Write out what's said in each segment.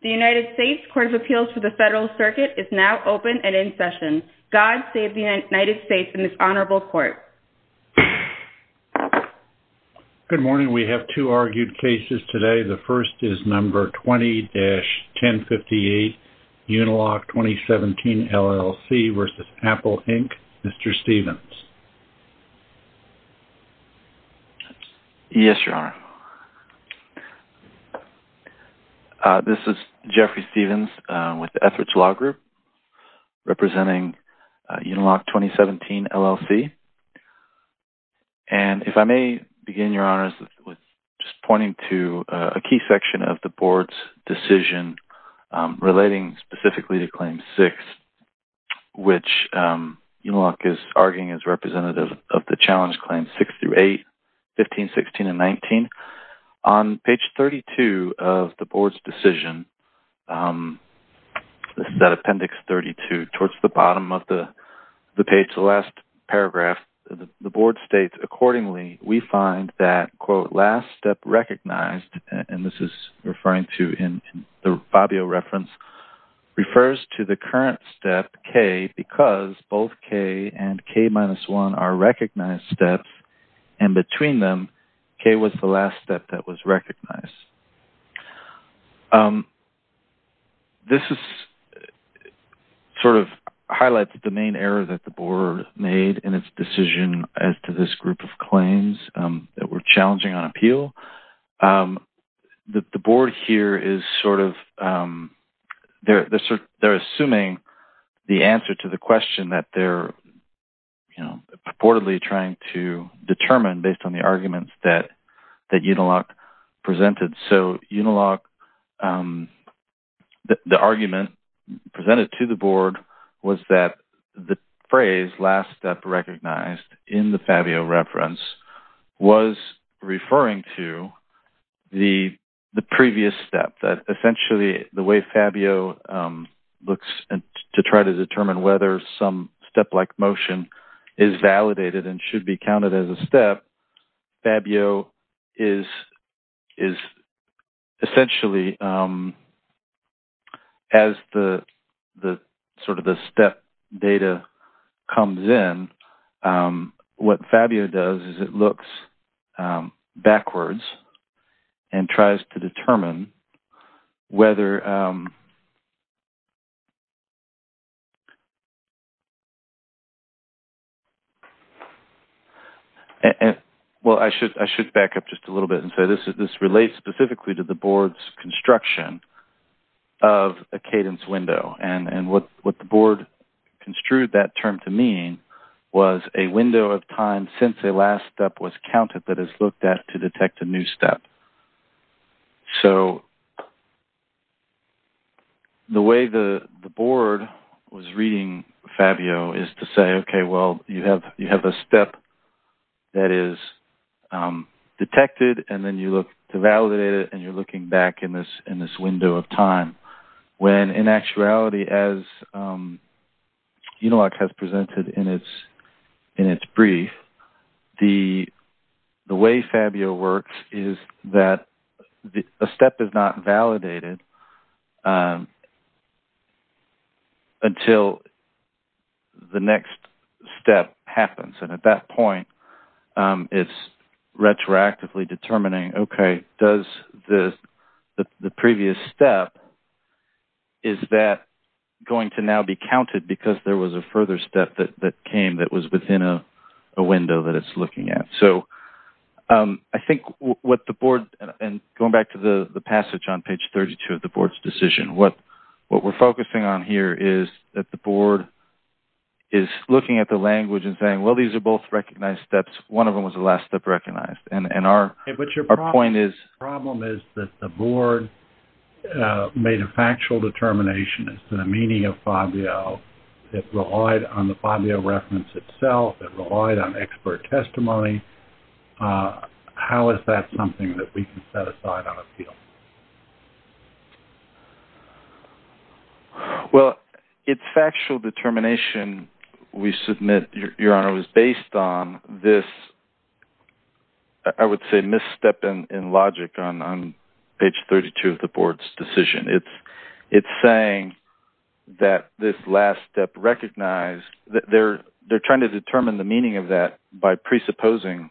The United States Court of Appeals for the Federal Circuit is now open and in session. God save the United States and this honorable court. Good morning. We have two argued cases today. The first is number 20-1058, Uniloc 2017 LLC v. Apple Inc., Mr. Stevens. Yes, Your Honor. This is Jeffrey Stevens with the Etheridge Law Group representing Uniloc 2017 LLC. And if I may begin, Your Honor, with just pointing to a key section of the board's decision relating specifically to Claim 6, which Uniloc is arguing is representative of the Challenge Claims 6 through 8, 15, 16, and 19. On page 32 of the board's decision, this is at appendix 32, towards the bottom of the page, the last paragraph, the board states, accordingly, we find that, quote, last step recognized, and this is referring to in the Fabio reference, refers to the current step, K, because both K and K-1 are recognized steps, and between them, K was the last step that was recognized. This sort of highlights the main error that the board made in its decision as to this group of claims that were challenging on appeal. The board here is sort of, they're assuming the answer to the question that they're purportedly trying to determine based on the arguments that Uniloc presented. So Uniloc, the argument presented to the board was that the phrase last step recognized in the Fabio reference was referring to the previous step, that essentially the way Fabio looks to try to determine whether some step-like motion is validated and should be counted as a step, Fabio is essentially, as the sort of the step data comes in, what Fabio does is it looks backwards and tries to determine whether... Well, I should back up just a little bit and say this relates specifically to the board's construction of a cadence window, and what the board construed that term to mean was a window of time since a last step was counted that is looked at to detect a new step. So the way the board was reading Fabio is to say, okay, well, you have a step that is detected, and then you look to validate it, and you're looking back in this window of time. When in actuality, as Uniloc has presented in its brief, the way Fabio works is that a step is not validated until the next step happens. And at that point, it's retroactively determining, okay, does the previous step, is that going to now be counted because there was a further step that came that was within a window that it's looking at? So I think what the board, and going back to the passage on page 32 of the board's decision, what we're focusing on here is that the board is looking at the language and saying, well, these are both recognized steps. One of them was a last step recognized, and our point is... It relied on the Fabio reference itself. It relied on expert testimony. How is that something that we can set aside on appeal? Well, its factual determination, we submit, Your Honor, was based on this, I would say, misstep in logic on page 32 of the board's decision. It's saying that this last step recognized, they're trying to determine the meaning of that by presupposing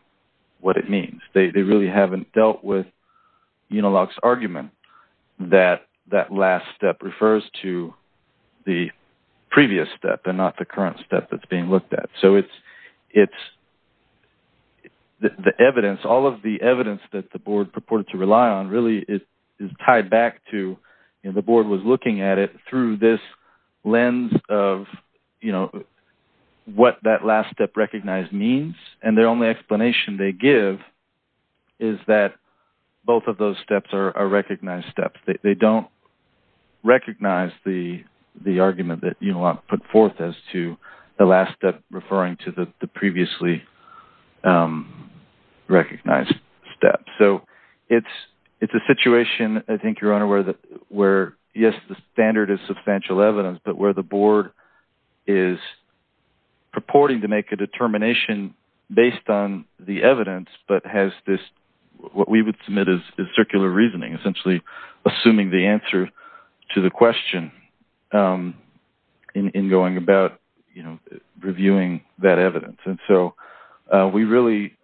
what it means. They really haven't dealt with Uniloc's argument that that last step refers to the previous step and not the current step that's being looked at. So it's the evidence, all of the evidence that the board purported to rely on really is tied back to... The board was looking at it through this lens of what that last step recognized means, and their only explanation they give is that both of those steps are recognized steps. They don't recognize the argument that Uniloc put forth as to the last step referring to the previously recognized step. So it's a situation, I think, Your Honor, where, yes, the standard is substantial evidence, but where the board is purporting to make a determination based on the evidence, but has this, what we would submit is circular reasoning, essentially assuming the answer to the question in going about reviewing that evidence. And so we really,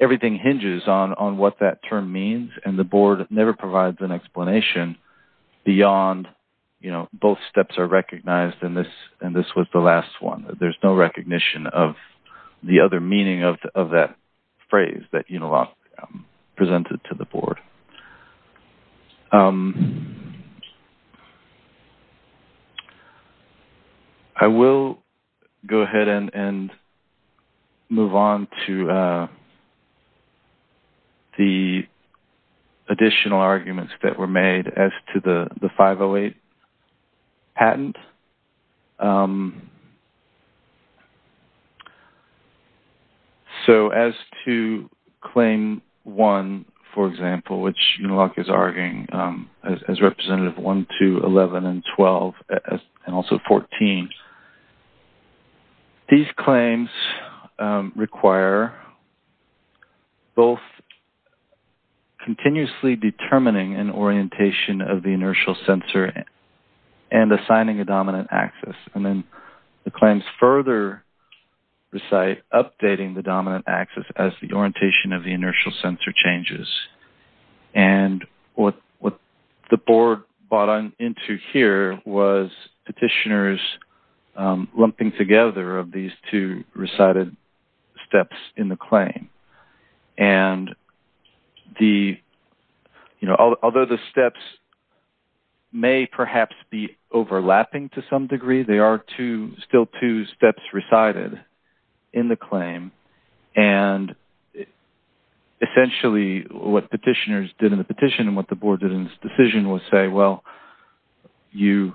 everything hinges on what that term means, and the board never provides an explanation beyond both steps are recognized and this was the last one. There's no recognition of the other meaning of that phrase that Uniloc presented to the board. I will go ahead and move on to the additional arguments that were made as to the 508 patent. So as to Claim 1, for example, which Uniloc is arguing as Representative 1, 2, 11, and 12, and also 14, these claims require both continuously determining an orientation of the inertial sensor and assigning a dominant axis. And then the claims further recite updating the dominant axis as the orientation of the inertial sensor changes. And what the board bought into here was petitioners lumping together of these two recited steps in the claim. And the, you know, although the steps may perhaps be overlapping to some degree, they are two, still two steps recited in the claim. And essentially what petitioners did in the petition and what the board did in its decision was say, well, you're,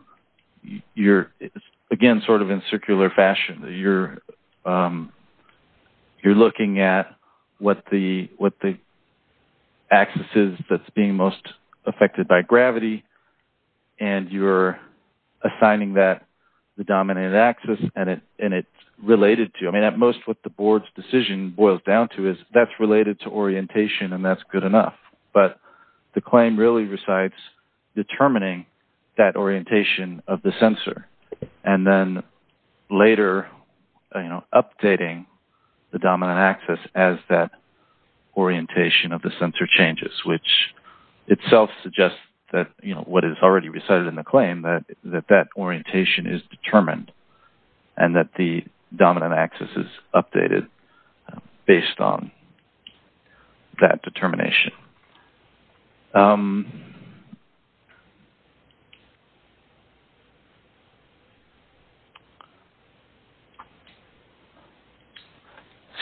again, sort of in circular fashion. You're looking at what the axis is that's being most affected by gravity and you're assigning that the dominant axis and it's related to. I mean, at most what the board's decision boils down to is that's related to orientation and that's good enough. But the claim really recites determining that orientation of the sensor and then later, you know, updating the dominant axis as that orientation of the sensor changes, which itself suggests that, you know, what is already recited in the claim, that that orientation is determined and that the dominant axis is updated based on that determination. Thank you.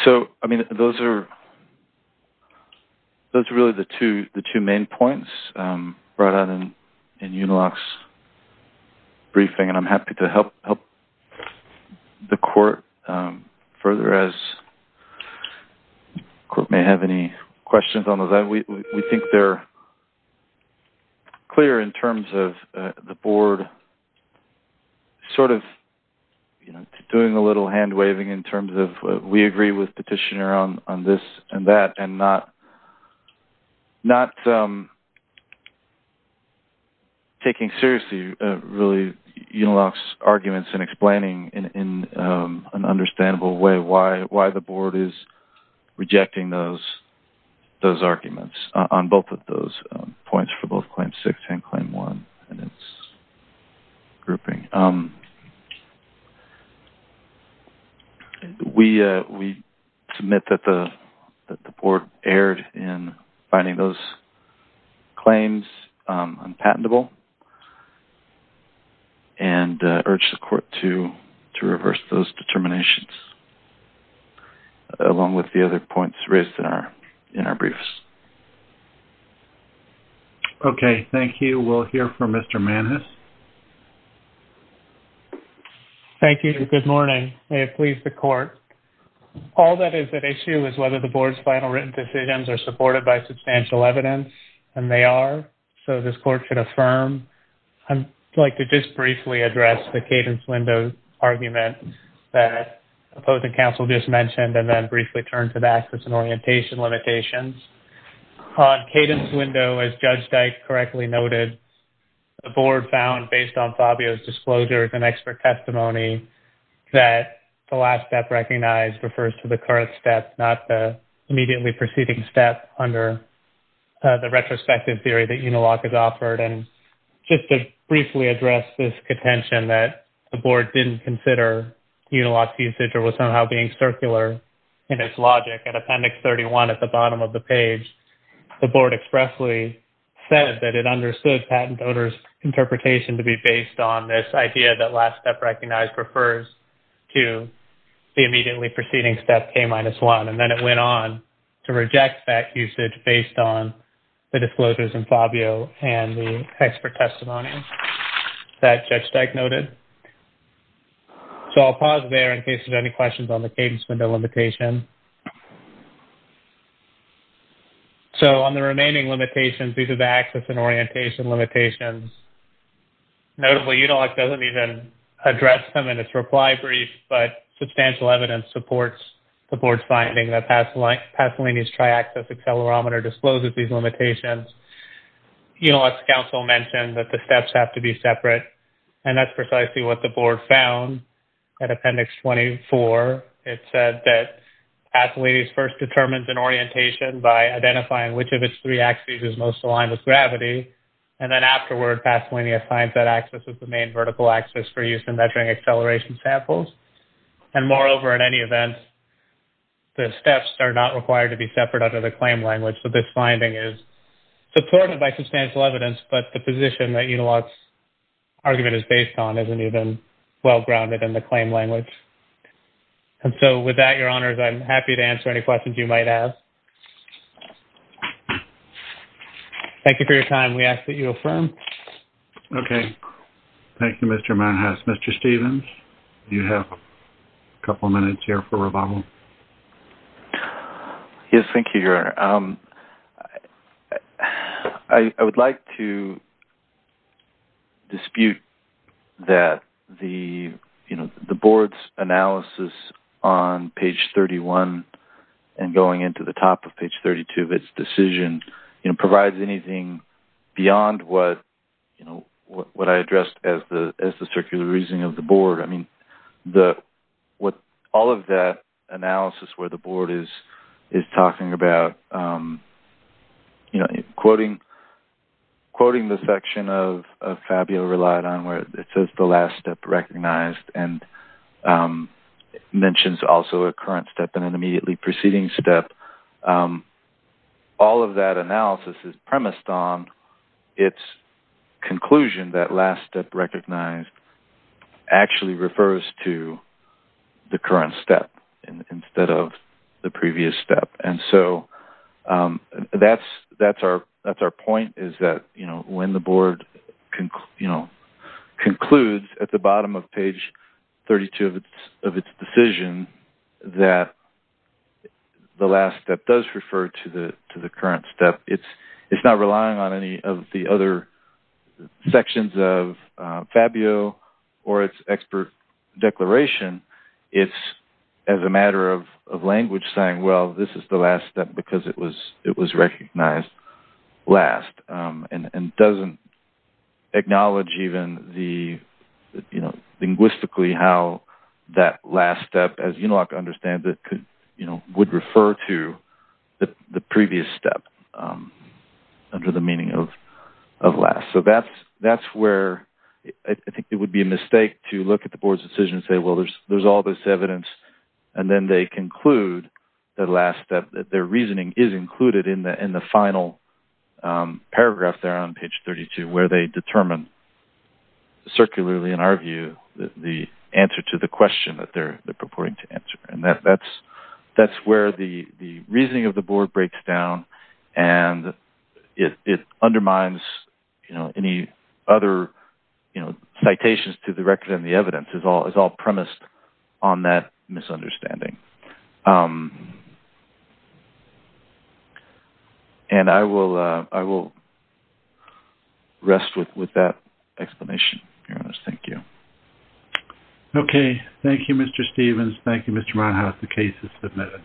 So, I mean, those are really the two main points brought out in Uniloc's briefing. And I'm happy to help the court further as the court may have any questions on that. We think they're clear in terms of the board sort of doing a little hand-waving in terms of we agree with petitioner on this and that and not taking seriously really Uniloc's arguments and explaining in an understandable way why the board is rejecting those arguments. On both of those points for both Claim 6 and Claim 1 and its grouping, we submit that the board erred in finding those claims unpatentable and urge the court to reverse those determinations along with the other points raised in our briefs. Okay. Thank you. We'll hear from Mr. Mannes. Thank you. Good morning. May it please the court. All that is at issue is whether the board's final written decisions are supported by substantial evidence, and they are, so this court should affirm. I'd like to just briefly address the cadence window argument that opposing counsel just mentioned and then briefly turn to the access and orientation limitations. On cadence window, as Judge Dyke correctly noted, the board found based on Fabio's disclosures and expert testimony that the last step recognized refers to the current step, not the immediately preceding step under the retrospective theory that Uniloc has offered. Just to briefly address this contention that the board didn't consider Uniloc's usage or was somehow being circular in its logic, at Appendix 31 at the bottom of the page, the board expressly said that it understood patent owner's interpretation to be based on this idea that last step recognized refers to the immediately preceding step, K-1. And then it went on to reject that usage based on the disclosures in Fabio and the expert testimony that Judge Dyke noted. So I'll pause there in case there's any questions on the cadence window limitation. So on the remaining limitations, these are the access and orientation limitations. Notably, Uniloc doesn't even address them in its reply brief, but substantial evidence supports the board's finding that Pasolini's triaxis accelerometer discloses these limitations. Uniloc's counsel mentioned that the steps have to be separate, and that's precisely what the board found at Appendix 24. It said that Pasolini's first determines an orientation by identifying which of its three axes is most aligned with gravity, and then afterward Pasolini assigns that axis as the main vertical axis for use in measuring acceleration samples. And moreover, in any event, the steps are not required to be separate under the claim language, so this finding is supported by substantial evidence, but the position that Uniloc's argument is based on isn't even well-grounded in the claim language. And so with that, Your Honors, I'm happy to answer any questions you might have. Thank you for your time. We ask that you affirm. Okay. Thank you, Mr. Manhas. Mr. Stevens, you have a couple minutes here for rebuttal. Yes, thank you, Your Honor. I would like to dispute that the board's analysis on page 31 and going into the top of page 32 of its decision provides anything beyond what I addressed as the circular reasoning of the board. I mean, all of that analysis where the board is talking about, you know, quoting the section of Fabio relied on where it says the last step recognized and mentions also a current step and an immediately preceding step, all of that analysis is premised on its conclusion that last step recognized actually refers to the current step instead of the previous step. And so that's our point is that, you know, when the board concludes at the bottom of page 32 of its decision that the last step does refer to the current step, it's not relying on any of the other sections of Fabio or its expert declaration. It's as a matter of language saying, well, this is the last step because it was recognized last and doesn't acknowledge even the, you know, linguistically how that last step, as you know, I understand that, you know, would refer to the previous step under the meaning of last. So that's where I think it would be a mistake to look at the board's decision and say, well, there's all this evidence. And then they conclude the last step that their reasoning is included in the final paragraph there on page 32 where they determine circularly, in our view, the answer to the question that they're purporting to answer. And that's where the reasoning of the board breaks down and it undermines, you know, any other, you know, citations to the record and the evidence is all premised on that misunderstanding. And I will rest with that explanation. Thank you. Okay. Thank you, Mr. Stevens. Thank you, Mr. Monhouse. The case is submitted.